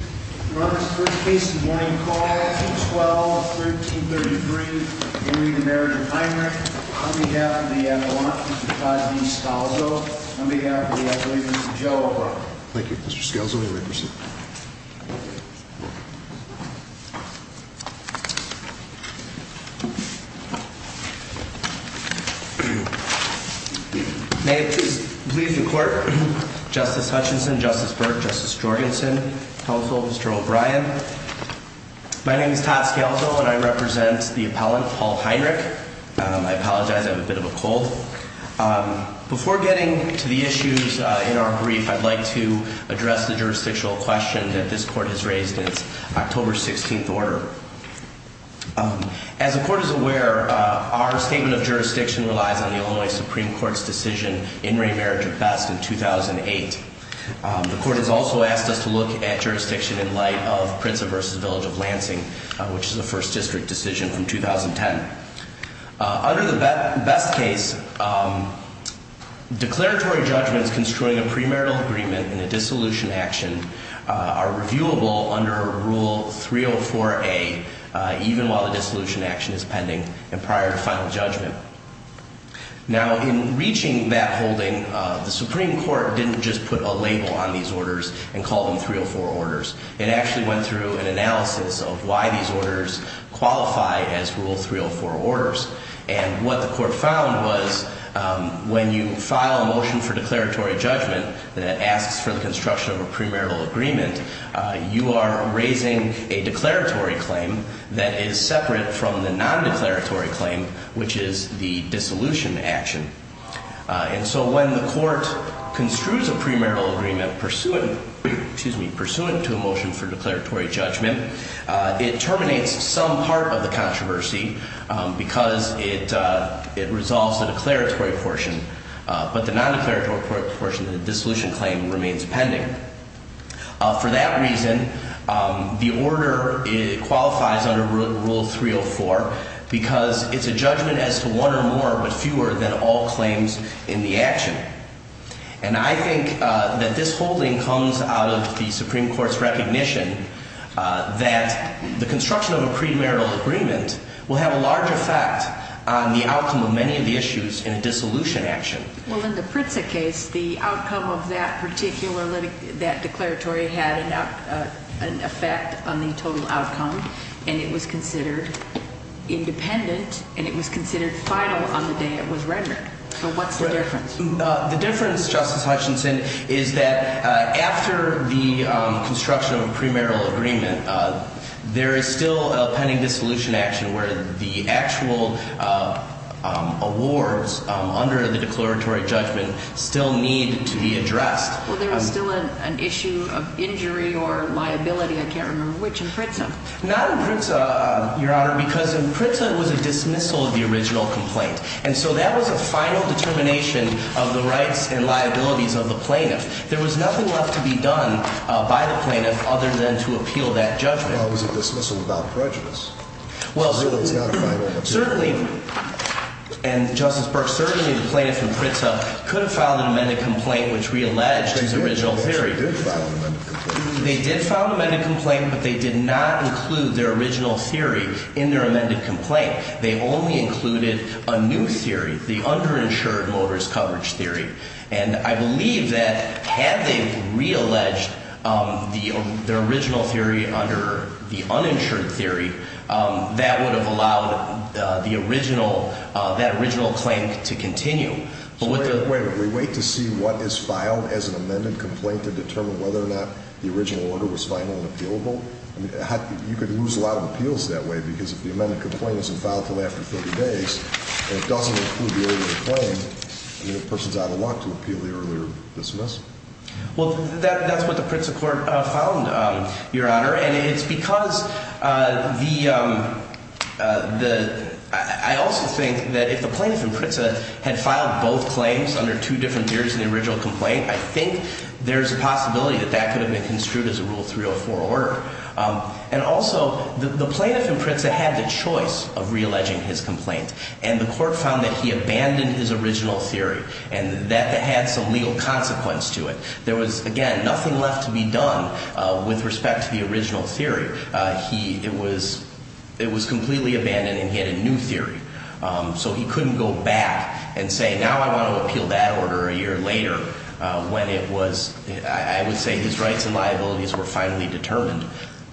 on behalf of the uh on behalf of the uh Joe. Thank you. Mr. Scalzo, you may proceed. May it please the court. Justice Hutchinson, Justice Burke, Justice Jorgensen, Counsel, Mr. O'Brien. My name is Todd Scalzo and I represent the appellant Paul Heinrich. Um I apologize. I have a bit of a cold. Um before getting to the issues uh in our brief, I'd like to address the jurisdictional question that this court has raised in its October 16th order. Um as the court is aware, uh our statement of jurisdiction relies on look at jurisdiction in light of Prinza versus Village of Lansing, which is a first district decision from 2010. Uh under the best case, um declaratory judgments construing a premarital agreement in a dissolution action uh are reviewable under Rule 304A, uh even while the dissolution action is pending and prior to final judgment. Now in reaching that holding, uh the Supreme Court didn't just put a label on these orders and call them 304 orders. It actually went through an analysis of why these orders qualify as Rule 304 orders. And what the court found was um when you file a motion for declaratory judgment that asks for the construction of a premarital agreement, uh you are raising a declaratory claim that is separate from the non-declaratory claim, which is the dissolution action. Uh and so when the court construes a premarital agreement pursuant, excuse me, pursuant to a motion for declaratory judgment, uh it terminates some part of the controversy um because it uh it resolves the declaratory portion, uh but the non-declaratory portion of the dissolution claim remains pending. Uh for that reason, um the order qualifies under Rule 304 because it's a judgment as to one or more but fewer than all claims in the action. And I think uh that this holding comes out of the Supreme Court's recognition uh that the construction of a premarital agreement will have a large effect on the outcome of many of the issues in a dissolution action. Well in the Pritzker case, the outcome of that particular that declaratory had an effect on the total outcome and it was considered independent and it was considered final on the day it was rendered. So what's the difference? The difference, Justice Hutchinson, is that uh after the um construction of a premarital agreement, uh there is still a pending dissolution action where the actual uh um awards um under the declaratory judgment still need to be addressed. Well there was still an issue of injury or liability, I can't remember which, in Pritzker. Not in Pritzker, Your Honor, because in Pritzker it was a dismissal of the original complaint. And so that was a final determination of the rights and liabilities of the plaintiff. There was nothing left to be done uh by the plaintiff other than to appeal that judgment. Well it was a dismissal without prejudice. Well certainly, and Justice Burke, certainly the plaintiff in Pritzker could have filed an amended complaint which realleged his original theory. They did file an amended complaint but they did not include their original theory in their amended complaint. They only included a new theory, the underinsured motorist coverage theory. And I believe that had they realleged um the original theory under the uninsured theory, um that would have allowed uh the original uh that original claim to continue. So wait a minute, wait a minute, we wait to see what is filed as an amended complaint to determine whether or not the original order was filed. I think there's a lot of appeals that way because if the amended complaint isn't filed until after 30 days and it doesn't include the original claim, the person's out of luck to appeal the earlier dismissal. Well that's what the Pritzker court found, Your Honor, and it's because uh the um uh the I also think that if the plaintiff in Pritzker had filed both claims under two different theories in the original complaint, I think there's a possibility that that could have been construed as a Rule 304 order. Um and also the plaintiff in Pritzker had the choice of realleging his complaint and the court found that he abandoned his original theory and that had some legal consequence to it. There was again nothing left to be done uh with respect to the original theory. Uh he it was it was completely abandoned and he had a new theory. Um so he couldn't go back and say now I was I would say his rights and liabilities were finally determined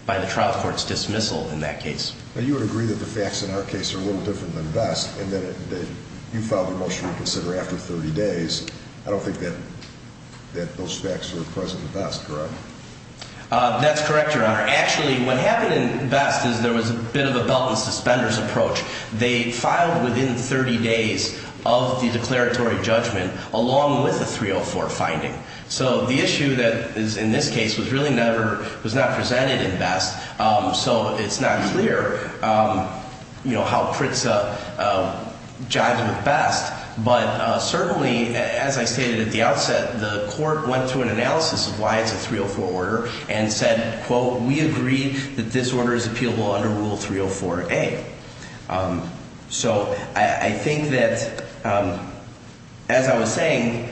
by the trial court's dismissal in that case. But you would agree that the facts in our case are a little different than best and that you filed the motion to reconsider after 30 days. I don't think that that those facts are present at best, correct? Uh that's correct, Your Honor. Actually what happened in best is there was a bit of a belt and suspenders approach. They so the issue that is in this case was really never was not presented in best. Um so it's not clear um you know how Pritzker uh jived with best. But uh certainly as I stated at the outset the court went through an analysis of why it's a 304 order and said quote we agree that this order is appealable under Rule 304A. Um so I I think that um as I was saying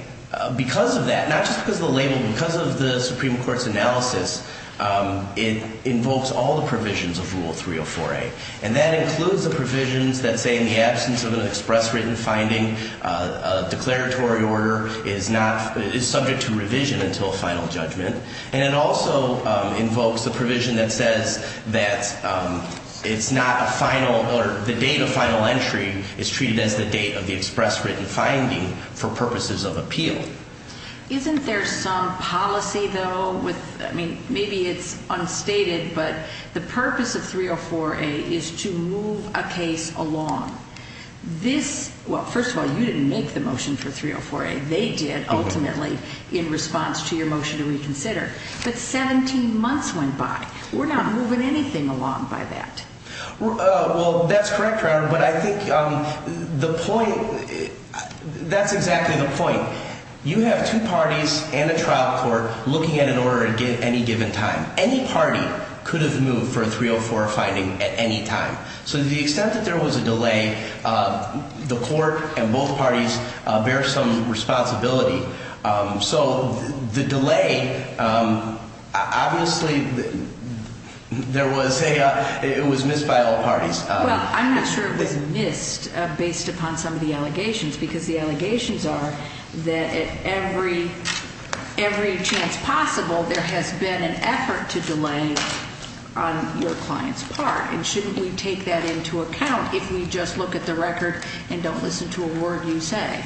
because of that, not just because of the label, because of the Supreme Court's analysis, um it invokes all the provisions of Rule 304A. And that includes the provisions that say in the absence of an express written finding uh a declaratory order is not is subject to revision until final judgment. And it also um invokes a provision that says that um it's not a final or the date of final entry is treated as the date of the express written finding for purposes of appeal. Isn't there some policy though with I mean maybe it's unstated but the purpose of 304A is to move a case along. This well first of all you didn't make the motion for 304A. They did ultimately in response to your motion to reconsider. But 17 months went by. We're not moving anything along by that. Uh well that's correct Your Honor but I think um the point that's exactly the point. You have two parties and a trial court looking at an order at any given time. Any party could have moved for a 304 finding at any time. So the extent that there was a delay uh the court and both parties uh bear some responsibility. Um so the delay um obviously there was a uh it was missed by all parties on some of the allegations. Because the allegations are that at every every chance possible there has been an effort to delay on your client's part. And shouldn't we take that into account if we just look at the record and don't listen to a word you say?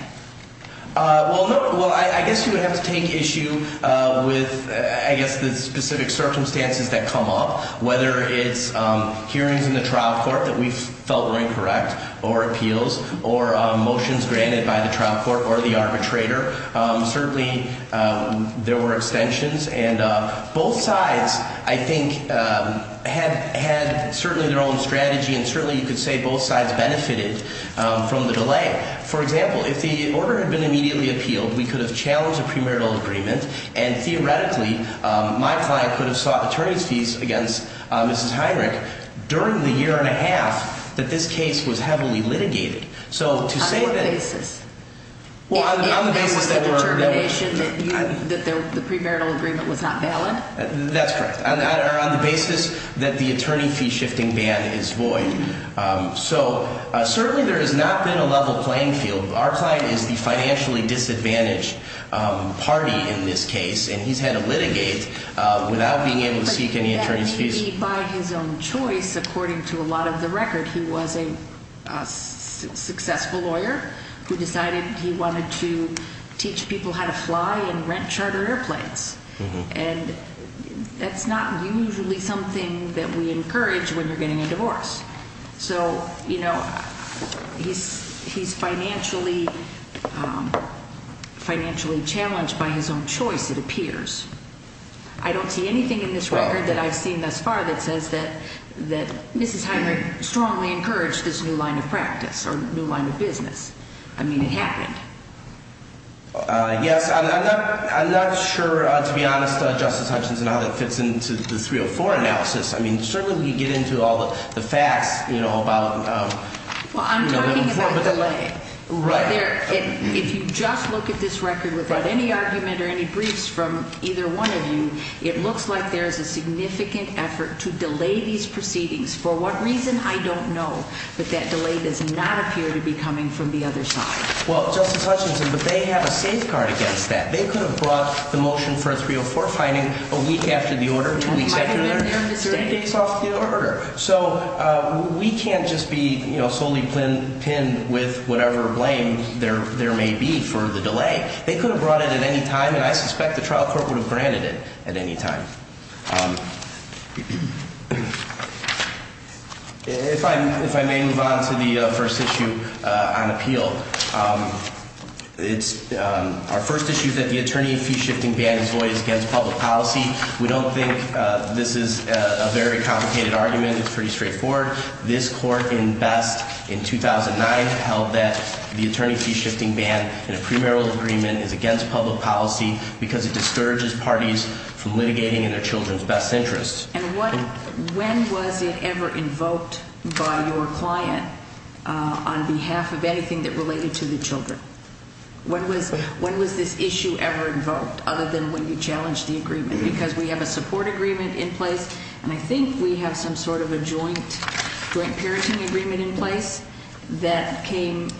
Uh well no well I guess you would have to take issue uh with I guess the specific circumstances that come up. Whether it's um hearings in the trial court that we have or um motions granted by the trial court or the arbitrator. Um certainly um there were extensions and uh both sides I think um had had certainly their own strategy and certainly you could say both sides benefited um from the delay. For example if the order had been immediately appealed we could have challenged a premarital agreement and theoretically um my client could have sought attorney's fees against uh Mrs. Heinrich during the year and a half that this case was heavily litigated. So to say that. On what basis? Well on the basis that were determination that the premarital agreement was not valid? That's correct. On the basis that the attorney fee shifting ban is void. Um so uh certainly there has not been a level playing field. Our client is the financially disadvantaged um party in this case and he's had to litigate uh without being able to seek any attorney's fees by his own choice. According to a lot of the record he was a successful lawyer who decided he wanted to teach people how to fly and rent charter airplanes. And that's not usually something that we encourage when you're getting a divorce. So you know he's he's financially um financially challenged by his own choice. It appears I don't see anything in this record that I've seen thus far that says that that Mrs. Heinrich strongly encouraged this new line of practice or new line of business. I mean it happened. Yes. I'm not I'm not sure to be honest Justice Hutchins and how that fits into the 304 analysis. I mean certainly we get into all the facts you know about um well I'm talking about delay right there. If you just look at this record without any argument or any briefs from either one of you, it looks like there is a significant effort to delay these proceedings. For what reason? I don't know. But that delay does not appear to be coming from the other side. Well justice Hutchinson, but they have a safeguard against that. They could have brought the motion for a 304 finding a week after the order 20 days after 30 days off the order. So uh we can't just be solely pin pin with whatever blame there there may be for the delay. They could have brought it at any time and I suspect the trial court would have granted it at any time. Um if I'm if I may move on to the first issue on appeal. Um it's um our first issue that the attorney of fee shifting ban is void against public policy. We don't think this is a very complicated argument. It's pretty straightforward. This court in best in 2009 held that the attorney fee shifting ban in a premarital agreement is against public policy because it discourages parties from litigating in their Children's best interests. And what when was it ever invoked by your client on behalf of anything that related to the Children? When was when was this issue ever invoked other than when you challenged the agreement? Because we have a support agreement in place and I joint parenting agreement in place that came,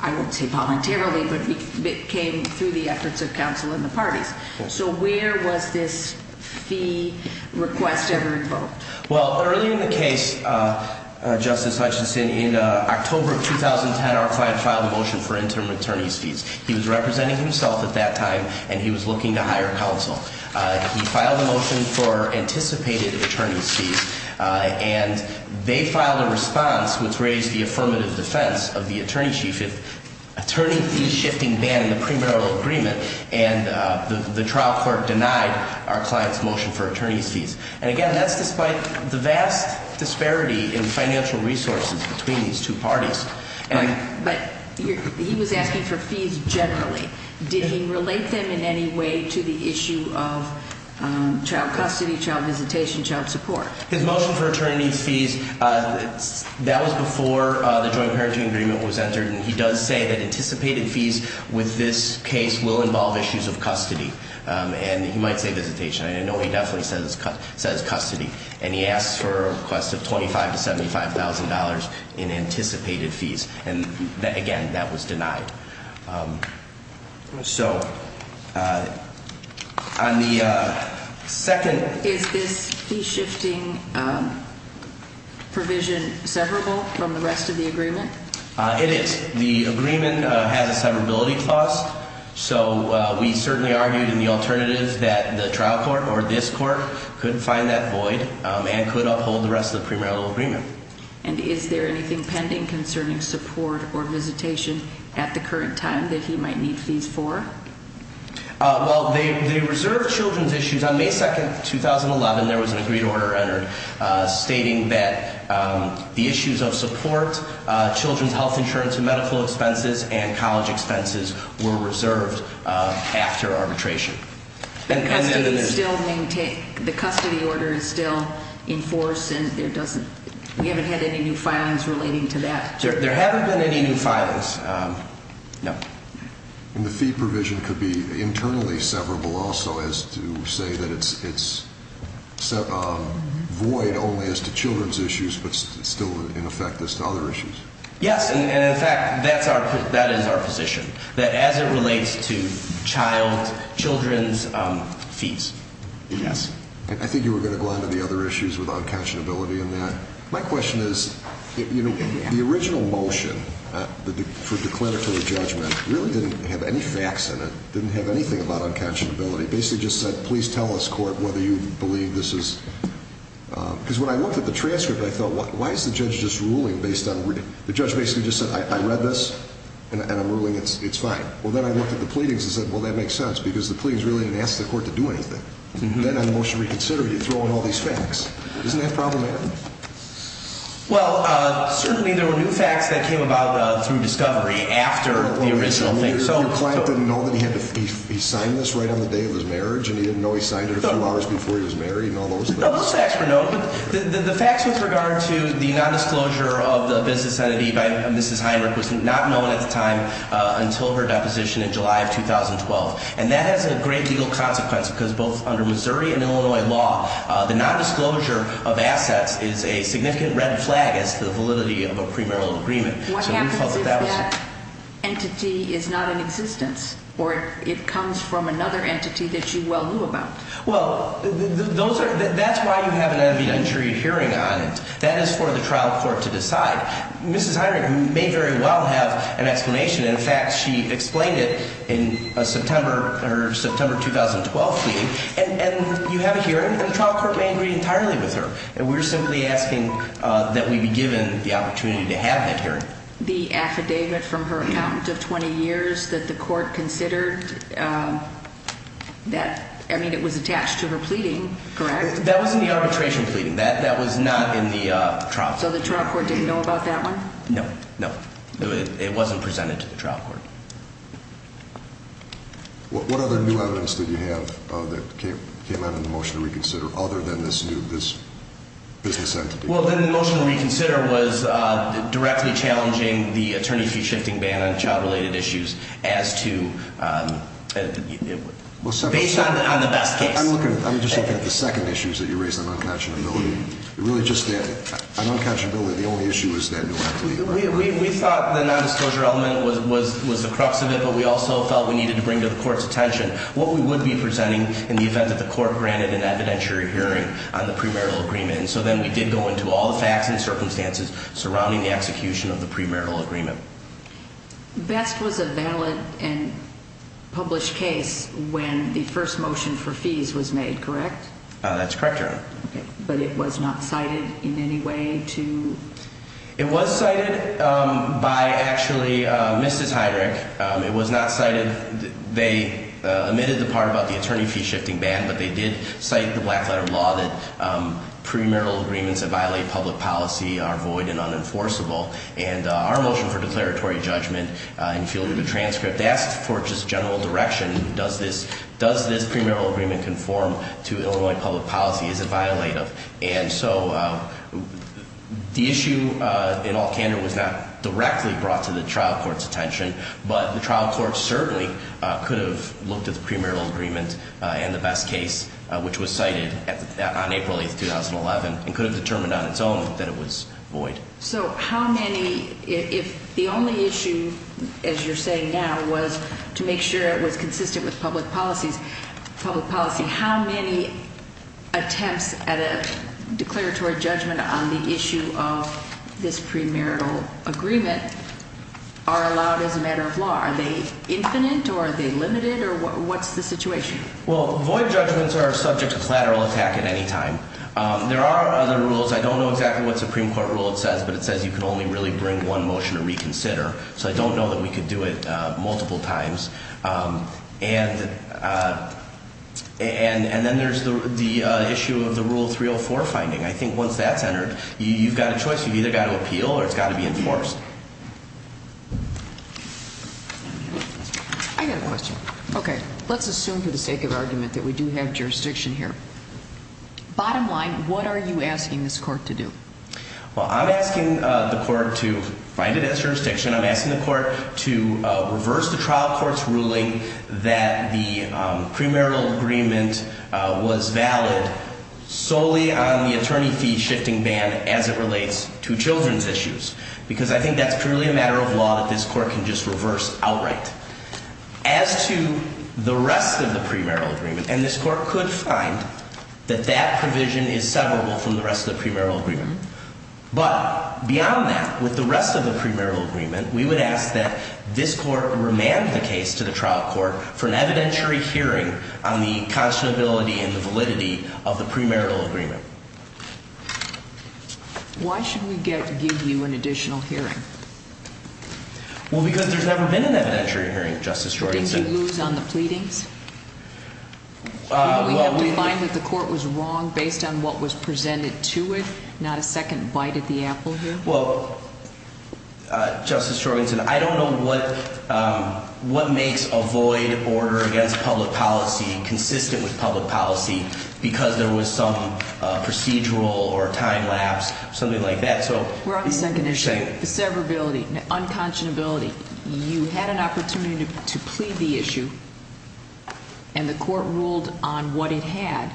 I would say voluntarily, but it came through the efforts of counsel in the parties. So where was this fee request ever invoked? Well, early in the case, uh, Justice Hutchinson in october of 2010, our client filed a motion for interim attorney's fees. He was representing himself at that time and he was looking to hire counsel. Uh, he filed a motion for anticipated attorney's fees and they filed a response which raised the affirmative defense of the attorney chief. If attorney fee shifting ban in the premarital agreement and the trial court denied our clients motion for attorney's fees. And again, that's despite the vast disparity in financial resources between these two parties. But he was asking for fees generally. Did he relate them in any way to the issue of child custody, child visitation, child support, his motion for attorney fees. That was before the joint parenting agreement was entered. And he does say that anticipated fees with this case will involve issues of custody. Um, and he might say visitation. I know he definitely says says custody and he asked for a request of 25 to $75,000 in anticipated fees. And again, that was second. Is this key shifting, um, provision severable from the rest of the agreement? It is. The agreement has a severability cost. So we certainly argued in the alternative that the trial court or this court couldn't find that void and could uphold the rest of the premarital agreement. And is there anything pending concerning support or visitation at the current time that he on May 2nd, 2011, there was an agreed order entered stating that the issues of support Children's health insurance and medical expenses and college expenses were reserved after arbitration. The custody order is still in force and there doesn't, we haven't had any new filings relating to that. There haven't been any new filings. Um, no. And the fee provision could be internally severable also as to say that it's, it's so, um, void only as to Children's issues, but still in effect as to other issues. Yes. And in fact, that's our, that is our position that as it relates to child Children's fees. Yes, I think you were going to go on to the other issues with unconscionability in that. My question is, you know, the original motion for declaratory judgment really didn't have any facts in it, didn't have anything about unconscionability, basically just said, please tell us court whether you believe this is. Um, because when I looked at the transcript, I thought, why is the judge just ruling based on the judge basically just said, I read this and I'm ruling it's fine. Well, then I looked at the pleadings and said, well, that makes sense because the plea is really an ask the court to do anything. Then on the motion reconsider, you throw in all these facts. Isn't that problematic? Well, uh, certainly there were new facts that came about through discovery after the original thing. So your client didn't know that he had to, he signed this right on the day of his marriage and he didn't know he signed it a few hours before he was married and all those things. No, those facts were noted, but the facts with regard to the nondisclosure of the business entity by Mrs Heinrich was not known at the time until her deposition in July of 2012. And that has a great legal consequence because both under Missouri and Illinois law, the nondisclosure of assets is a significant red flag as to the validity of a premarital agreement. What happens if that entity is not in existence or it comes from another entity that you well knew about? Well, those are, that's why you have an evidentiary hearing on it. That is for the trial court to decide. Mrs Heinrich may very well have an explanation. In fact, she explained it in a September or September 2012 meeting and you have a hearing and the trial court may agree entirely with her. And we're simply asking that we be given the opportunity to have that hearing. The affidavit from her accountant of 20 years that the court considered that, I mean it was attached to her pleading, correct? That was in the arbitration pleading. That was not in the trial court. So the trial court didn't know about that one? No, no. It wasn't presented to the trial court. What other new evidence did you have that came out in the motion to reconsider other than this new, this business entity? Well, then the motion to reconsider was directly challenging the attorney fee shifting ban on child related issues as to, based on the best case. I'm looking, I'm just looking at the second issues that you raised on uncatchability. It really just, on uncatchability the only issue is that new entity. We thought the non-disclosure element was the crux of it, but we also felt we needed to bring to the court's attention what we would be presenting in the event that the court granted an evidentiary hearing on the premarital agreement. So then we did go into all the facts and circumstances surrounding the execution of the premarital agreement. Best was a valid and published case when the first motion for fees was made, correct? That's correct, Your Honor. But it was not cited in any way to? It was cited by actually Mrs. Heyrich. It was not cited, they omitted the part about the premarital agreements that violate public policy are void and unenforceable. And our motion for declaratory judgment and fielded a transcript asked for just general direction. Does this, does this premarital agreement conform to Illinois public policy? Is it violative? And so the issue in all candor was not directly brought to the trial court's attention, but the trial court certainly could have looked at the premarital agreement and the best case, which was cited on April 8th, 2011, and could have determined on its own that it was void. So how many, if the only issue, as you're saying now, was to make sure it was consistent with public policy, how many attempts at a declaratory judgment on the issue of this premarital agreement are allowed as a matter of law? Are they infinite or are they limited or what's the situation? Well, void judgments are subject to collateral attack at any time. There are other rules. I don't know exactly what Supreme Court rule it says, but it says you can only really bring one motion to reconsider. So I don't know that we could do it multiple times. And then there's the issue of the Rule 304 finding. I think once that's entered, you've got a choice. You've either got to appeal or it's got to be enforced. I got a question. Okay. Let's assume for the sake of argument that we do have jurisdiction here. Bottom line, what are you asking this court to do? Well, I'm asking the court to find it as jurisdiction. I'm asking the court to reverse the trial court's ruling that the premarital agreement was valid solely on the attorney fee shifting ban as it relates to children's issues. Because I think that's purely a matter of law that this court can just reverse outright. As to the rest of the premarital agreement, and this court could find that that provision is severable from the rest of the premarital agreement. But beyond that, with the rest of the premarital agreement, we would ask that this court remand the case to the trial court for an evidentiary hearing on the conscionability and the validity of the premarital agreement. Why should we give you an additional hearing? Well, because there's never been an evidentiary hearing, Justice Jorgensen. Did you lose on the pleadings? We find that the court was wrong based on what was presented to it, not a second bite at the apple here? Well, Justice Jorgensen, I don't know what makes a void order against public policy because there was some procedural or time lapse, something like that. We're on the second issue, the severability, unconscionability. You had an opportunity to plead the issue and the court ruled on what it had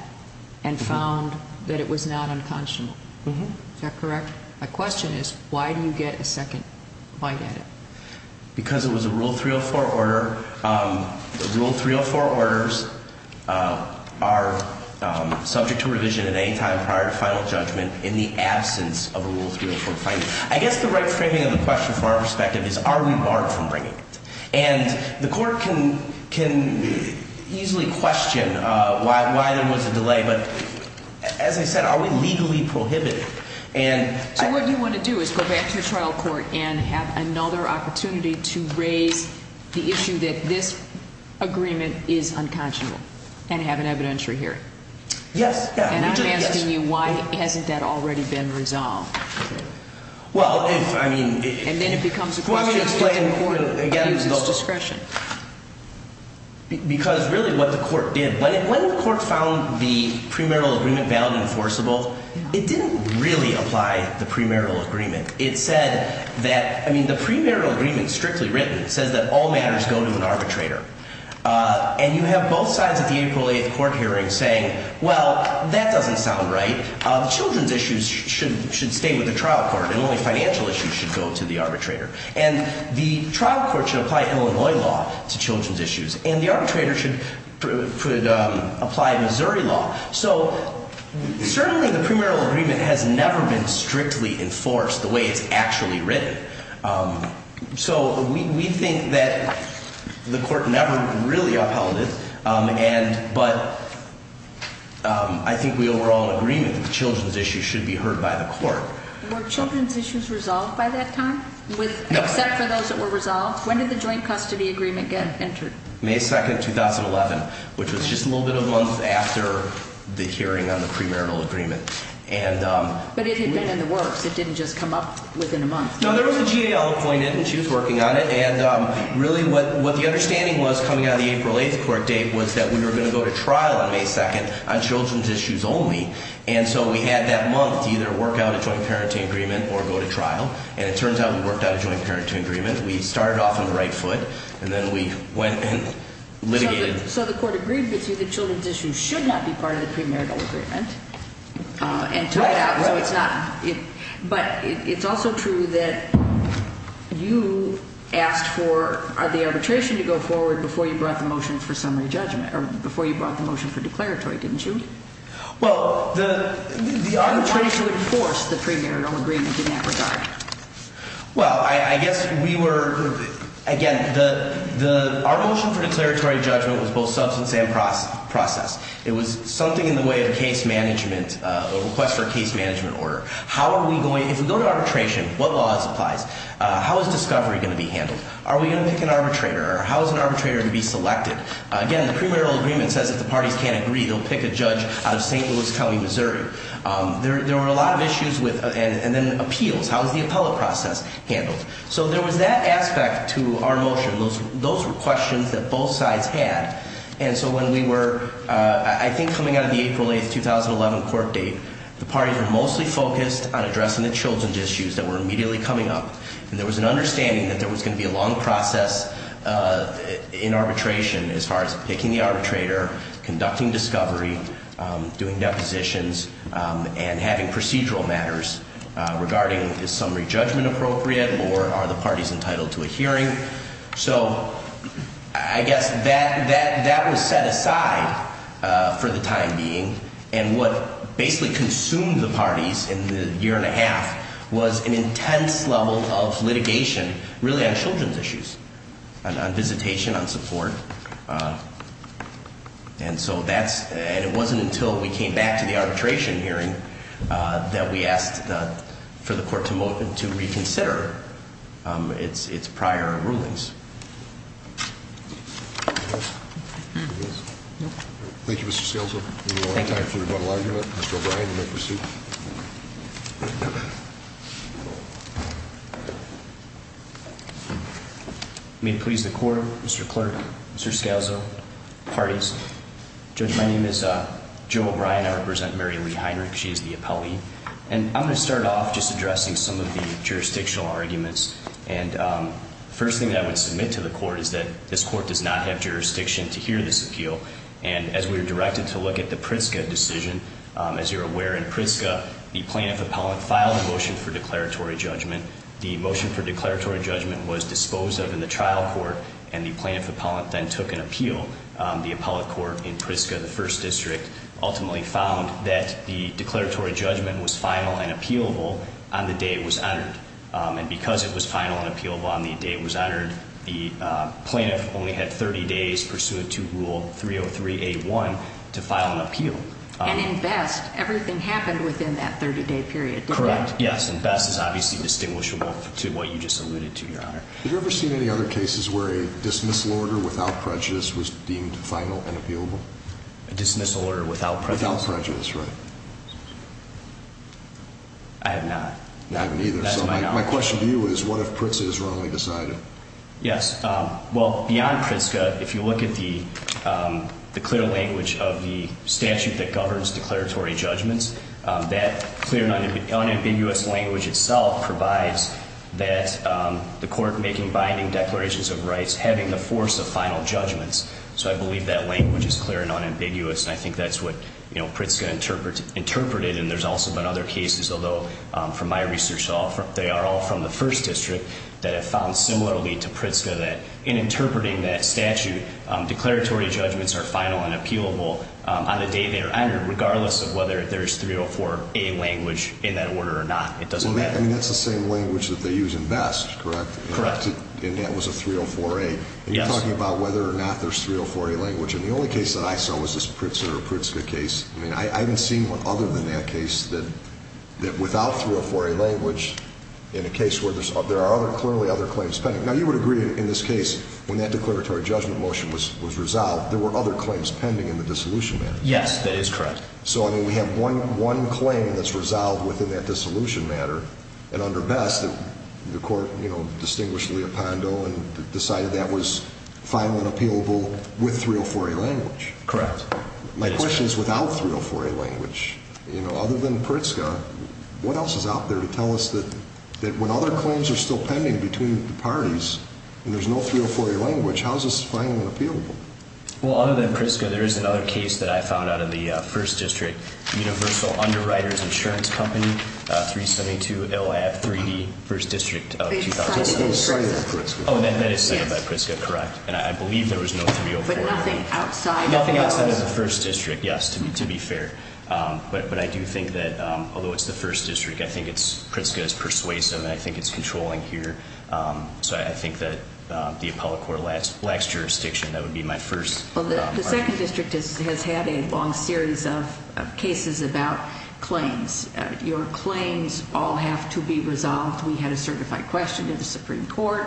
and found that it was not unconscionable. Is that correct? My question is, why do you get a second bite at it? Because it was a Rule 304 order. Rule 304 orders are subject to revision at any time prior to final judgment in the absence of a Rule 304 finding. I guess the right framing of the question from our perspective is, are we barred from bringing it? And the court can easily question why there was a delay, but as I said, are we legally prohibited? So what you want to do is go back to your trial court and have another opportunity to raise the issue that this agreement is unconscionable and have an evidentiary hearing? Yes. And I'm asking you, why hasn't that already been resolved? Well, I mean... And then it becomes a question of whether the court abuses discretion. Because really what the court did, when the court found the premarital agreement invalid and forcible, it didn't really apply the premarital agreement. It said that, I mean, the premarital agreement, strictly written, says that all matters go to an arbitrator. And you have both sides at the April 8th court hearing saying, well, that doesn't sound right. Children's issues should stay with the trial court and only financial issues should go to the arbitrator. And the trial court should apply Illinois law to children's issues. And the arbitrator should apply Missouri law. So certainly the premarital agreement has never been strictly enforced the way it's actually written. So we think that the court never really upheld it. But I think we overall agree that the children's issues should be heard by the court. Were children's issues resolved by that time? No. Except for those that were resolved? When did the joint custody agreement get entered? May 2nd, 2011, which was just a little bit of months after the hearing on the premarital agreement. But it had been in the works. It didn't just come up within a month. No, there was a GAO appointed and she was working on it. And really what the understanding was coming out of the April 8th court date was that we were going to go to trial on May 2nd on children's issues only. And so we had that month to either work out a joint parenting agreement or go to trial. And it turns out we worked out a joint parenting agreement. We started off on the right foot and then we went and litigated. So the court agreed with you that children's issues should not be part of the premarital agreement and took it out. But it's also true that you asked for the arbitration to go forward before you brought the motion for summary judgment or before you brought the motion for declaratory, didn't you? Well, the arbitration... You wanted to enforce the premarital agreement in that regard. Well, I guess we were... Again, our motion for declaratory judgment was both substance and process. It was something in the way of a case management... a request for a case management order. How are we going... If we go to arbitration, what laws applies? How is discovery going to be handled? Are we going to pick an arbitrator? How is an arbitrator going to be selected? Again, the premarital agreement says if the parties can't agree, they'll pick a judge out of St. Louis County, Missouri. There were a lot of issues with... Appeals. How is the appellate process handled? So there was that aspect to our motion. Those were questions that both sides had. And so when we were... I think coming out of the April 8, 2011 court date, the parties were mostly focused on addressing the children's issues that were immediately coming up. And there was an understanding that there was going to be a long process in arbitration as far as picking the arbitrator, conducting discovery, doing procedural matters regarding is summary judgment appropriate, or are the parties entitled to a hearing? So I guess that was set aside for the time being. And what basically consumed the parties in the year and a half was an intense level of litigation really on children's issues, on visitation, on support. And so that's... And it wasn't until we came back to the arbitration hearing that we asked for the court to reconsider its prior rulings. Thank you, Mr. Scalzo. Any more on time for rebuttal argument? Mr. O'Brien, you may proceed. May it please the court, Mr. Clerk, Mr. Scalzo, parties. Judge, my name is Joe Henry Heinrich. She is the appellee. And I'm going to start off just addressing some of the jurisdictional arguments. And the first thing that I would submit to the court is that this court does not have jurisdiction to hear this appeal. And as we were directed to look at the Pritzker decision, as you're aware, in Pritzker, the plaintiff appellant filed a motion for declaratory judgment. The motion for declaratory judgment was disposed of in the trial court, and the plaintiff appellant then took an appeal. The appellate court in Pritzker, the declaratory judgment was final and appealable on the day it was entered. And because it was final and appealable on the day it was entered, the plaintiff only had 30 days pursuant to Rule 303A1 to file an appeal. And in Best, everything happened within that 30-day period, correct? Correct, yes. And Best is obviously distinguishable to what you just alluded to, Your Honor. Have you ever seen any other cases where a dismissal order without prejudice was filed? I have not. I haven't either. So my question to you is, what if Pritzker is wrongly decided? Yes. Well, beyond Pritzker, if you look at the clear language of the statute that governs declaratory judgments, that clear and unambiguous language itself provides that the court making binding declarations of rights having the force of final judgments. So I believe that language is clear and unambiguous, and I think that's what, you know, Pritzker interpreted. And there's also been other cases, although from my research, they are all from the First District, that have found similarly to Pritzker that in interpreting that statute, declaratory judgments are final and appealable on the day they are entered, regardless of whether there's 304A language in that order or not. It doesn't matter. I mean, that's the same language that they use in Best, correct? Correct. And that was a 304A. Yes. We're talking about whether or not there's 304A language, and the only case that I saw was this Pritzker case. I mean, I haven't seen one other than that case that without 304A language in a case where there are clearly other claims pending. Now, you would agree in this case, when that declaratory judgment motion was resolved, there were other claims pending in the dissolution matter. Yes, that is correct. So, I mean, we have one claim that's resolved within that dissolution matter and under Best, the court, you know, distinguished Leopando and decided that was final and appealable with 304A language. Correct. My question is, without 304A language, you know, other than Pritzker, what else is out there to tell us that when other claims are still pending between the parties and there's no 304A language, how is this final and appealable? Well, other than Pritzker, there is another case that I found out of the 1st District, Universal Underwriters Insurance Company, 372 LAF 3D, 1st District of 2006. Oh, that is cited by Pritzker. Oh, that is cited by Pritzker, correct. And I believe there was no 304A. But nothing outside? Nothing outside of the 1st District, yes, to be fair. But I do think that, although it's the 1st District, I think it's, Pritzker is persuasive and I think it's controlling here. So, I think that the Appellate Court lacks jurisdiction. That would be my first argument. Well, the 2nd District has had a long series of cases about claims. Your claims all have to be resolved. We had a certified question to the Supreme Court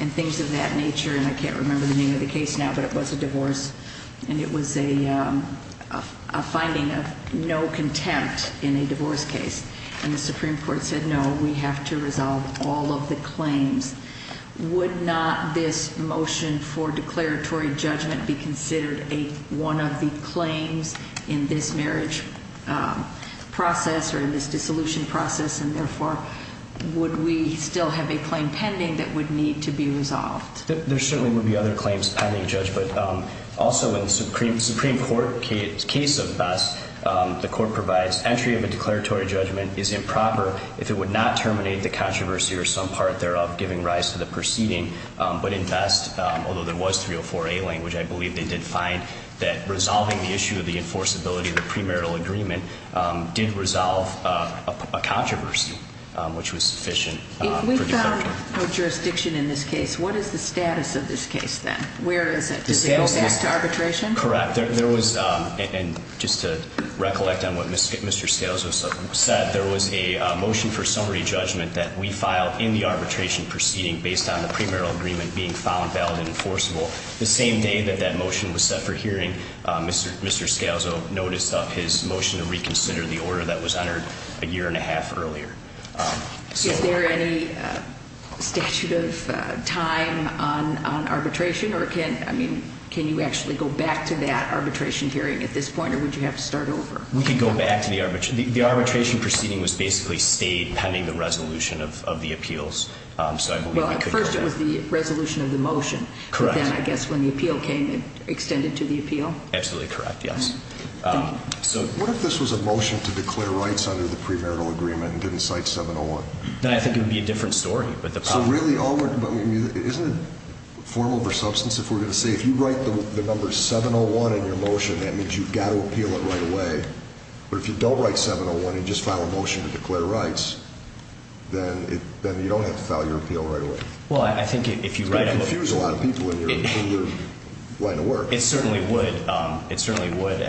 and things of that nature. And I can't remember the name of the case now, but it was a divorce and it was a finding of no contempt in a divorce case. And the Supreme Court said, no, we have to resolve all of the claims. Would not this motion for declaratory judgment be considered one of the claims in this marriage process or in this dissolution process? And therefore, would we still have a claim pending that would need to be resolved? There certainly would be other claims pending, Judge. But also, in the Supreme Court case of Best, the Court provides entry of a declaratory judgment is improper if it would not terminate the controversy or some part thereof, giving rise to the proceeding. But in Best, although there was 304A language, I believe they did find that resolving the issue of the enforceability of the premarital agreement did resolve a controversy which was sufficient. If we found no jurisdiction in this case, what is the status of this case then? Where is it? Does it go back to arbitration? Correct. There was, and just to recollect on what Mr. Scalzo said, there was a motion for summary judgment that we filed in the arbitration proceeding based on the premarital agreement being found valid and enforceable. The same day that that motion was set for hearing, Mr. Scalzo noticed up his motion to reconsider the order that was entered a year and a half earlier. Is there any statute of time on arbitration or can, I mean, can you actually go back to that arbitration hearing at this point or would you have to start over? We can go back to the arbitration. The arbitration proceeding was basically stayed pending the resolution of the appeals. Well, at first it was the resolution of the motion. Correct. But then I guess when the appeal came, it extended to the appeal. Absolutely correct, yes. What if this was a motion to declare rights under the premarital agreement and didn't cite 701? I think it would be a different story. So really, isn't it formal for substance if we're going to say, if you write the number 701 in your motion, that means you've got to appeal it right away. But if you don't write 701 and just file a motion to declare rights, then you don't have to file your appeal right away. Well, I think if you write a motion that includes a lot of people in your line of work. It certainly would. It certainly would.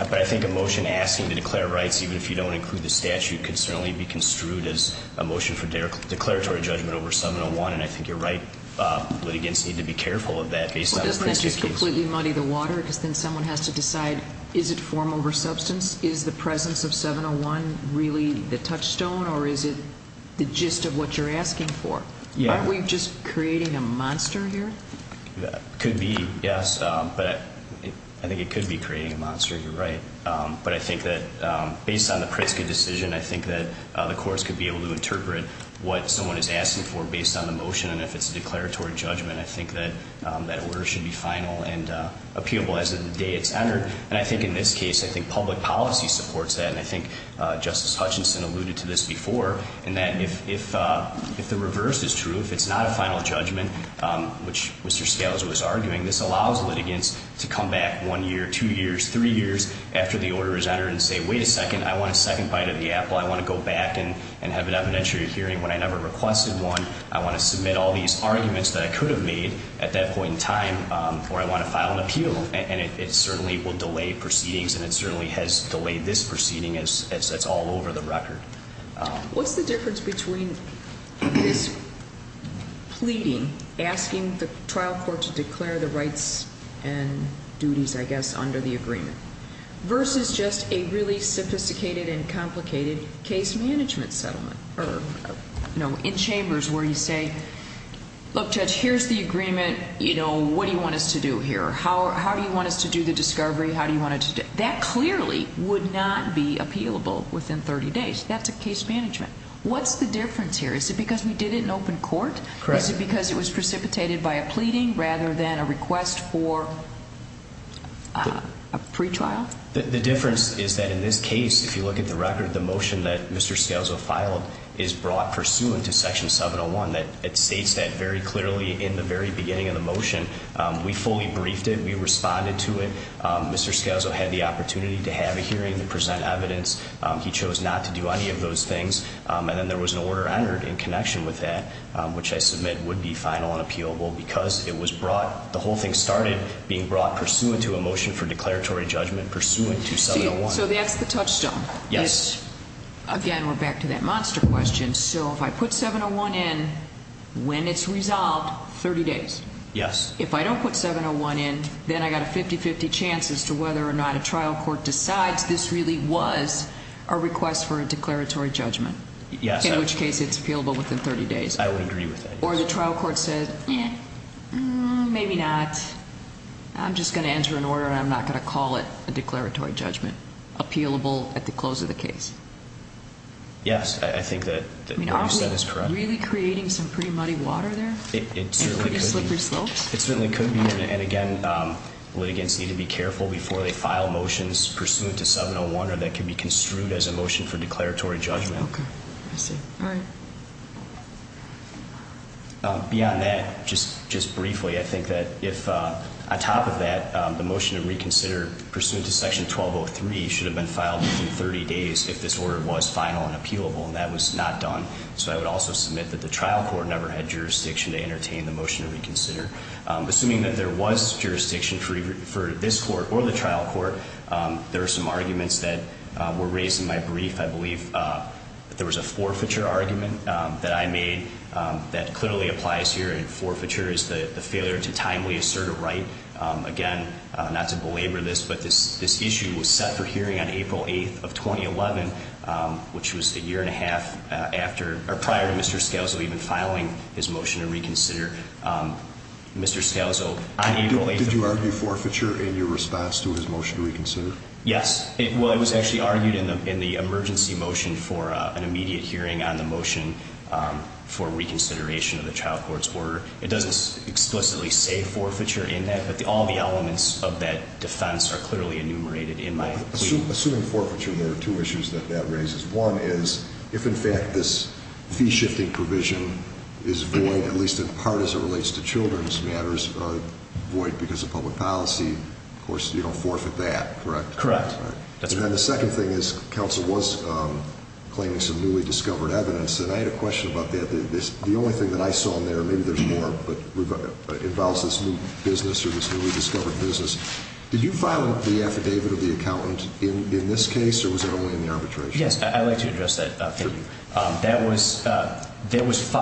But I think a motion asking to declare rights even if you don't include the statute could certainly be construed as a motion for declaratory judgment over 701 and I think your right litigants need to be careful of that based on the principles. Well, doesn't that just completely muddy the water because then someone has to decide is it form over substance? Is the presence of 701 really the touchstone or is it the gist of what you're asking for? Aren't we just creating a monster here? Could be, yes. But I think it could be creating a monster if you're right. But I think that based on the Pritzker decision, I think that the courts could be able to interpret what someone is asking for based on the motion and if it's a declaratory judgment, I think that order should be final and appealable as of the day it's entered. And I think in this case, I think public policy supports that and I think Justice Hutchinson alluded to this before and that if the reverse is true, if it's not a final judgment which Mr. Scalzo was arguing, this allows litigants to come back one year, two years, three years after the order is entered and say, wait a second, I want a second bite of the apple. I want to go back and have an evidentiary hearing when I never requested one. I want to submit all these arguments that I could have made at that point in time or I want to file an appeal. And it certainly will delay proceedings and it certainly has delayed this proceeding as it's all over the record. What's the difference between this pleading, asking the trial court to declare the rights and duties, I guess, under the agreement, versus just a really sophisticated and complicated case management settlement or, you know, in chambers where you say, look Judge, here's the agreement, you know, what do you want us to do here? How do you want us to do the discovery? How do you want us to do it? That clearly would not be effective case management. What's the difference here? Is it because we did it in open court? Correct. Is it because it was precipitated by a pleading rather than a request for a pretrial? The difference is that in this case, if you look at the record, the motion that Mr. Scalzo filed is brought pursuant to section 701. It states that very clearly in the very beginning of the motion. We fully briefed it. We responded to it. Mr. Scalzo had the opportunity to have a hearing to present evidence. He chose not to do any of those things. And then there was an order entered in connection with that, which I submit would be final and appealable because it was brought, the whole thing started being brought pursuant to a motion for declaratory judgment pursuant to 701. See, so that's the touchstone. Yes. Again, we're back to that monster question. So if I put 701 in when it's resolved, 30 days? Yes. If I don't put 701 in, then I've got a 50-50 chance as to whether or not a trial court decides this really was a request for a declaratory judgment. Yes. In which case it's appealable within 30 days. I would agree with that. Or the trial court said, eh, maybe not. I'm just going to enter an order and I'm not going to call it a declaratory judgment. Appealable at the close of the case. Yes, I think that what you said is correct. Are we really creating some pretty muddy water there? It certainly could be. Slippery slopes? It certainly could be. And again, litigants need to be pursuant to 701 or that can be construed as a motion for declaratory judgment. Okay. I see. Alright. Beyond that, just briefly, I think that if on top of that the motion to reconsider pursuant to Section 1203 should have been filed within 30 days if this order was final and appealable. And that was not done. So I would also submit that the trial court never had jurisdiction to entertain the motion to reconsider. Assuming that there was jurisdiction for this court or the trial court, there are some arguments that were raised in my brief. I believe there was a forfeiture argument that I made that clearly applies here. And forfeiture is the failure to timely assert a right. Again, not to belabor this, but this issue was set for hearing on April 8th of 2011, which was a year and a half prior to Mr. Scalzo even filing his motion to reconsider. Mr. Scalzo, on April 8th in response to his motion to reconsider? Yes. Well, it was actually argued in the emergency motion for an immediate hearing on the motion for reconsideration of the trial court's order. It doesn't explicitly say forfeiture in that, but all the elements of that defense are clearly enumerated in my brief. Assuming forfeiture, there are two issues that that raises. One is, if in fact this fee-shifting provision is void, at least in part as it relates to children's matters, void because of public policy, of course you don't forfeit that, correct? Correct. And then the second thing is, counsel was claiming some newly discovered evidence, and I had a question about that. The only thing that I saw in there, maybe there's more, but involves this new business or this newly discovered business. Did you file the affidavit of the accountant in this case, or was it only in the arbitration? Yes, I'd like to address that for you. It was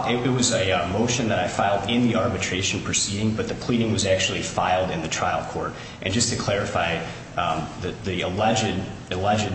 a motion that I filed in the arbitration proceeding, but the pleading was actually filed in the trial court. And just to clarify, the alleged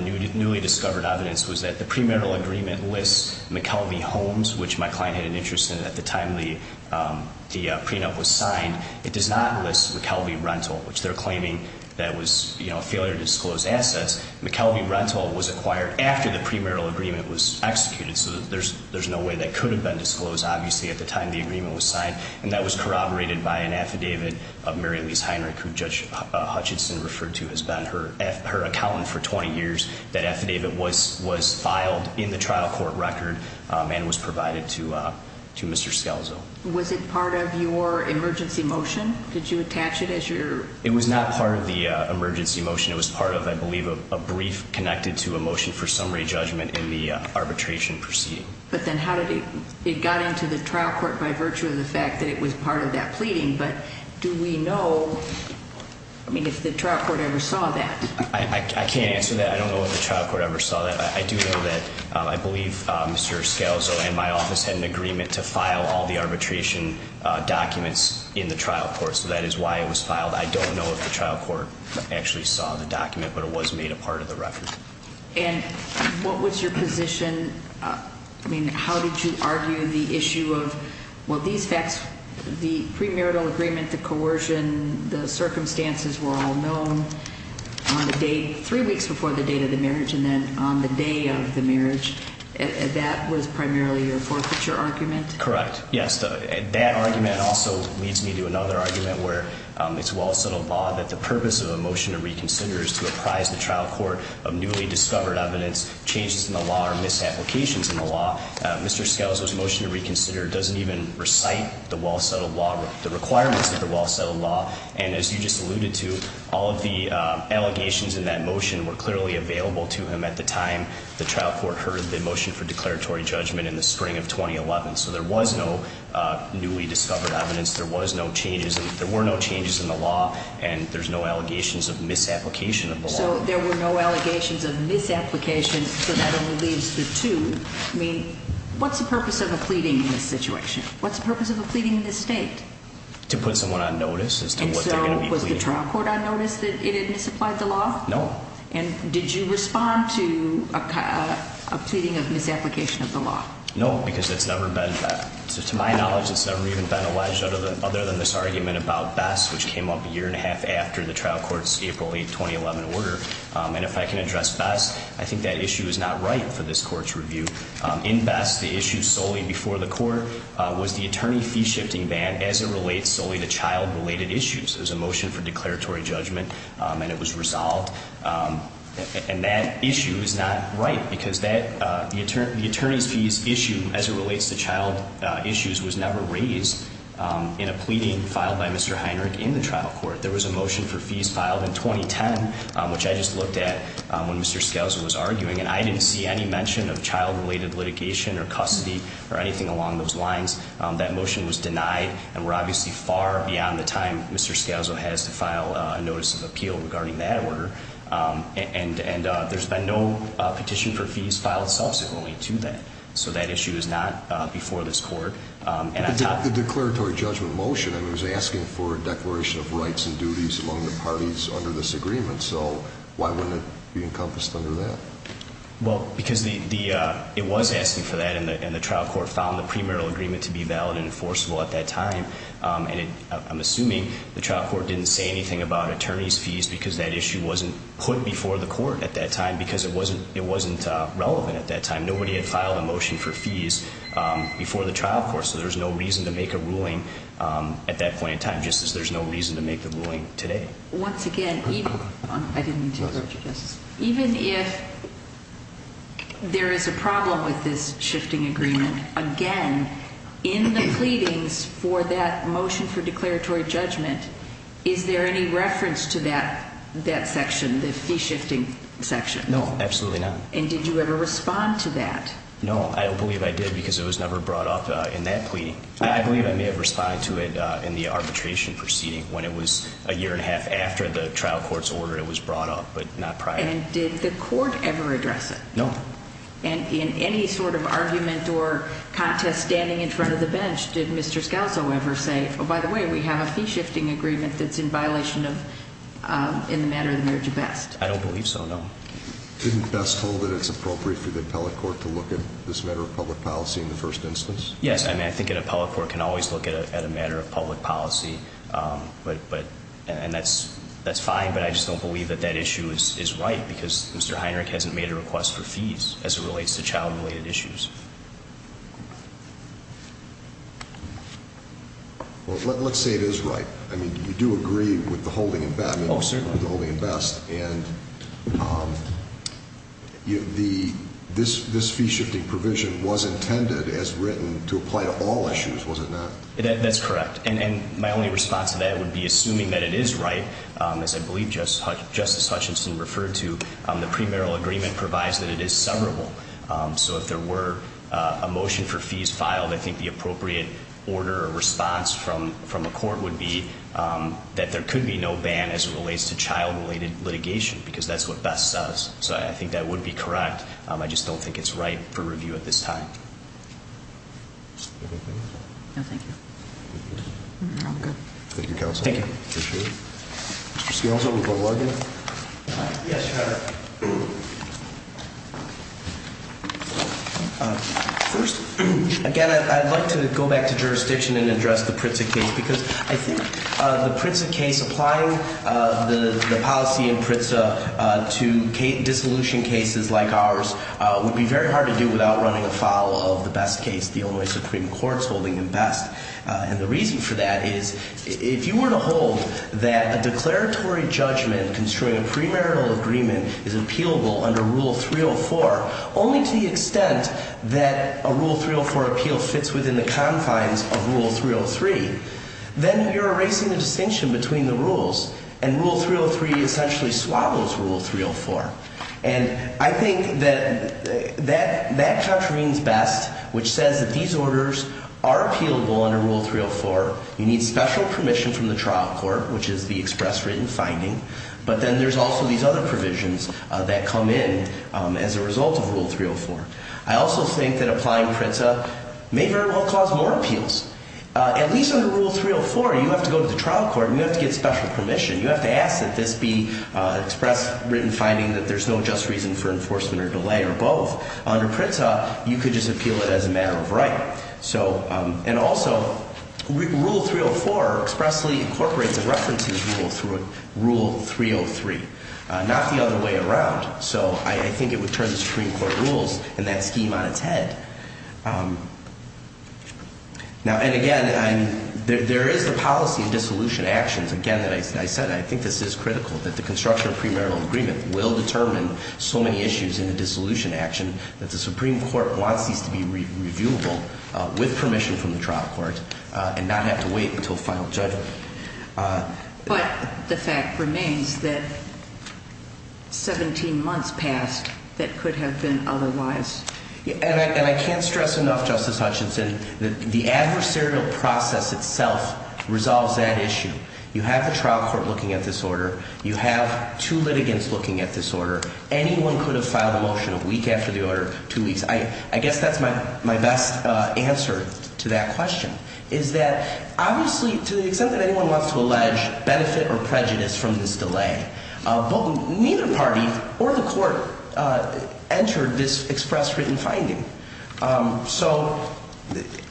newly discovered evidence was that the premarital agreement lists McKelvey Homes, which my client had an interest in at the time the prenup was signed. It does not list McKelvey Rental, which they're claiming that was a failure to disclose assets. McKelvey Rental was acquired after the premarital agreement was executed, so there's no way that could have been disclosed obviously at the time the agreement was signed. And that was corroborated by an affidavit of Mary Lise Heinrich, who Judge Hutchinson referred to as being her accountant for 20 years. That affidavit was filed in the trial court record and was provided to Mr. Scalzo. Was it part of your emergency motion? Did you attach it as your... It was not part of the emergency motion. It was part of, I believe, a brief connected to a motion for summary judgment in the arbitration proceeding. But then how did it... It got into the trial court by virtue of the fact that it was part of that pleading, but do we know... I mean, if the trial court ever saw that? I can't answer that. I don't know if the trial court ever saw that. I do know that... I believe Mr. Scalzo and my office had an agreement to file all the arbitration documents in the trial court, so that is why it was filed. I don't know if the trial court actually saw the document, but it was made a part of the record. And what was your position? I mean, how did you argue the issue of well, these facts, the premarital agreement, the coercion, the circumstances were all known on the day three weeks before the date of the marriage and then on the day of the marriage. That was primarily your forfeiture argument? Correct. Yes. That argument also leads me to another argument where it's well-settled law that the purpose of a motion to reconsider is to apprise the trial court of changes in the law or misapplications in the law. Mr. Scalzo's motion to reconsider doesn't even recite the requirements of the well-settled law and as you just alluded to, all of the allegations in that motion were clearly available to him at the time the trial court heard the motion for declaratory judgment in the spring of 2011. So there was no newly discovered evidence. There were no changes in the law and there's no allegations of misapplication of the law. So there were no allegations of misapplication, so that only leaves the two. What's the purpose of a pleading in this situation? What's the purpose of a pleading in this state? To put someone on notice as to what they're going to be pleading. And so was the trial court on notice that it had misapplied the law? No. And did you respond to a pleading of misapplication of the law? No, because it's never been, to my knowledge, it's never even been alleged other than this argument about BESS which came up a year and a half after the trial court's April 8, 2011 order. And if I can address BESS, I think that issue is not right for this court's review. In BESS, the issue solely before the court was the attorney fee shifting ban as it relates solely to child related issues. There's a motion for declaratory judgment and it was resolved and that issue is not right because that, the attorney's fees issue as it relates to child issues was never raised in a pleading filed by Mr. Heinrich in the trial court. There was a motion for fees filed in 2010 which I just looked at when Mr. Scalzo was arguing and I didn't see any mention of child related litigation or custody or anything along those lines. That motion was denied and we're obviously far beyond the time Mr. Scalzo has to file a notice of appeal regarding that order. And there's been no petition for fees filed subsequently to that. So that issue is not before this court. The declaratory judgment motion, I mean it was asking for fees from the parties under this agreement. So why wouldn't it be encompassed under that? Well because the, it was asking for that and the trial court found the premarital agreement to be valid and enforceable at that time and I'm assuming the trial court didn't say anything about attorney's fees because that issue wasn't put before the court at that time because it wasn't relevant at that time. Nobody had filed a motion for fees before the trial court so there's no reason to make a ruling at that point in time just as there's no reason to make the ruling today. Once again even if there is a problem with this shifting agreement, again in the pleadings for that motion for declaratory judgment is there any reference to that section, the fee shifting section? No, absolutely not. And did you ever respond to that? No, I don't believe I did because it was never brought up in that pleading. I believe I have responded to it in the arbitration proceeding when it was a year and a half after the trial court's order it was brought up but not prior. And did the court ever address it? No. And in any sort of argument or contest standing in front of the bench did Mr. Scalzo ever say oh by the way we have a fee shifting agreement that's in violation of in the matter of the marriage of best? I don't believe so, no. Didn't Best hold that it's appropriate for the appellate court to look at this matter of public policy in the first instance? Yes, I mean I think an appellate court can always look at a matter of public policy and that's fine but I just don't believe that that issue is right because Mr. Heinrich hasn't made a request for fees as it relates to child related issues. Well let's say it is right. I mean you do agree with the holding in Best and this fee shifting provision was intended as written to apply to all issues was it not? That's correct and my only response to that would be assuming that it is right as I believe Justice Hutchinson referred to the premarital agreement provides that it is severable. So if there were a motion for fees filed I think the appropriate order or response from a court would be that there could be no ban as it relates to child related litigation because that's what Best says. So I think that would be correct but I just don't think it's right for review at this time. Anything else? No thank you. Thank you counsel. Thank you. Yes First again I'd like to go back to jurisdiction and address the Pritza case because I think the Pritza case applying the policy in Pritza to dissolution cases like ours would be very hard to do without running a file of the Best case, the Illinois Supreme Court's holding in Best and the reason for that is if you were to hold that a declaratory judgment construing a premarital agreement is appealable under Rule 304 only to the extent that a Rule 304 appeal fits within the confines of Rule 303 then you're erasing the distinction between the rules and Rule 303 Rule 303 essentially swallows Rule 304 and I think that that contravenes Best which says that these orders are appealable under Rule 304. You need special permission from the trial court which is the express written finding but then there's also these other provisions that come in as a result of Rule 304 I also think that applying Pritza may very well cause more appeals At least under Rule 304 you have to go to the trial court and you have to get the express written finding that there's no just reason for enforcement or delay or both. Under Pritza you could just appeal it as a matter of right and also Rule 304 expressly incorporates a reference to the rule through Rule 303 not the other way around so I think it would turn the Supreme Court rules in that scheme on its head and again there is the policy in dissolution actions again that I said I think this is critical that the construction of premarital agreement will determine so many issues in the dissolution action that the Supreme Court wants these to be reviewable with permission from the trial court and not have to wait until final judgment But the fact remains that 17 months passed that could have been otherwise And I can't stress enough Justice Hutchinson that the adversarial process itself resolves that issue. You have the trial court looking at this order You have two litigants looking at this order. Anyone could have filed a motion a week after the order, two weeks. I guess that's my best answer to that question is that obviously to the extent that anyone wants to allege benefit or prejudice from this delay but neither party or the court entered this express written finding so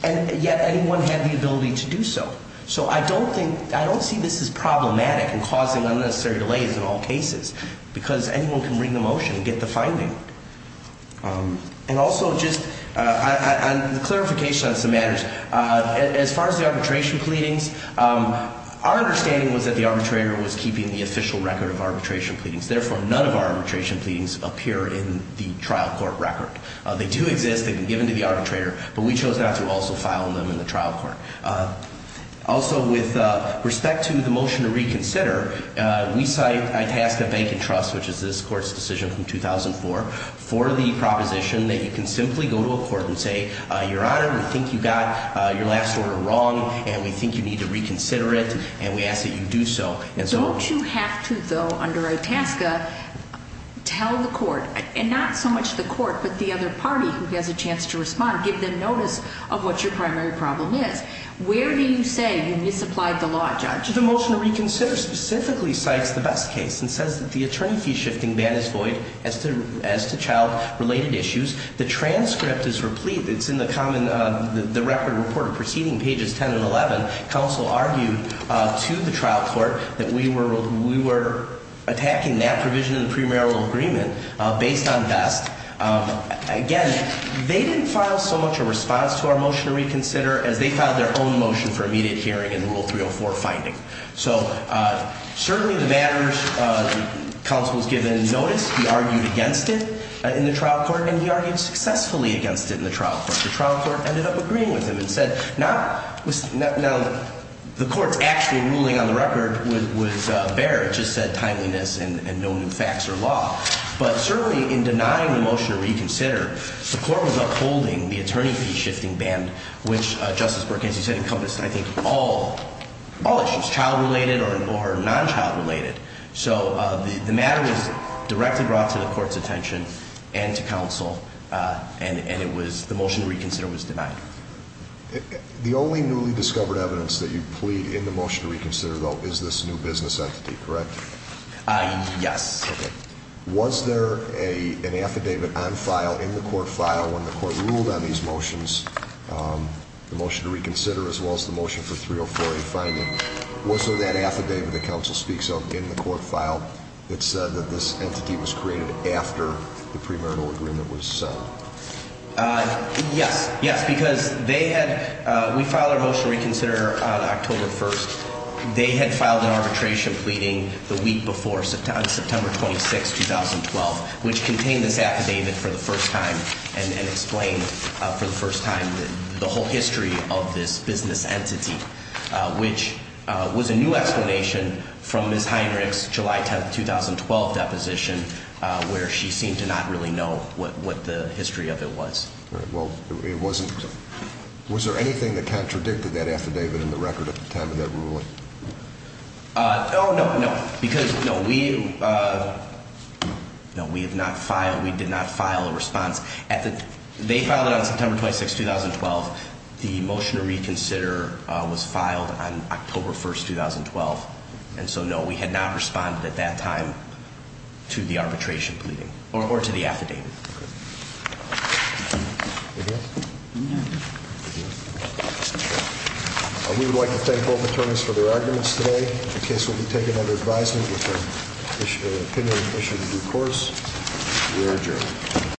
and yet anyone had the ability to do so so I don't think I don't see this as problematic and causing unnecessary delays in all cases because anyone can bring the motion and get the finding and also just a clarification on some matters as far as the arbitration pleadings our understanding was that the arbitrator was keeping the official record of arbitration pleadings therefore none of our arbitration pleadings appear in the trial court record. They do exist. They've been given to the arbitrator but we chose not to also file them in the trial court Also with respect to the motion to reconsider we cite Itasca Bank and Trust which is this court's decision from 2004 for the proposition that you can simply go to a court and say your honor we think you got your last order wrong and we think you need to reconsider it and we ask that you do so. Don't you have to though under Itasca tell the court and not so much the court but the other parties to respond. Give them notice of what your primary problem is. Where do you say you misapplied the law judge? The motion to reconsider specifically cites the Best case and says that the attorney fee shifting ban is void as to child related issues. The transcript is replete it's in the record report proceeding pages 10 and 11 counsel argued to the trial court that we were attacking that provision in the premarital agreement based on Best Again they didn't file so much a response to our motion to reconsider as they filed their own motion for immediate hearing in rule 304 finding. So certainly the matters counsel has given notice. He argued against it in the trial court and he argued successfully against it in the trial court. The trial court ended up agreeing with him and said now the court's actual ruling on the record was bare. It just said timeliness and no new facts or law but certainly in denying the motion to reconsider the court was upholding the attorney fee shifting ban which Justice Burk as you said encompassed I think all issues child related or non child related so the matter was directly brought to the court's attention and to counsel and it was the motion to reconsider was denied. The only newly discovered evidence that you plead in the motion to reconsider though is this new business entity correct? Yes. Was there an affidavit on file in the court file when the court ruled on these motions the motion to reconsider as well as the motion for 304A finding was there that affidavit that counsel speaks of in the court file that said that this entity was created after the premarital agreement was signed? Yes, yes because they had we filed our motion to reconsider on October 1st. They had filed an arbitration pleading the week before on September 26th 2012 which contained this affidavit for the first time and explained for the first time the whole history of this business entity which was a new explanation from Ms. Heinrich's July 10th 2012 deposition where she seemed to not really know what the history of it was. Was there anything that contradicted that affidavit in the record at the time of that ruling? Oh no, no because we have not filed a response. They filed it on September 26th 2012 the motion to reconsider was filed on October 1st 2012 and so no we had not responded at that time to the arbitration pleading or to the affidavit. Thank you. We would like to thank both attorneys for their arguments today. The case will be taken under advisement with an opinion issued in due course. We are adjourned.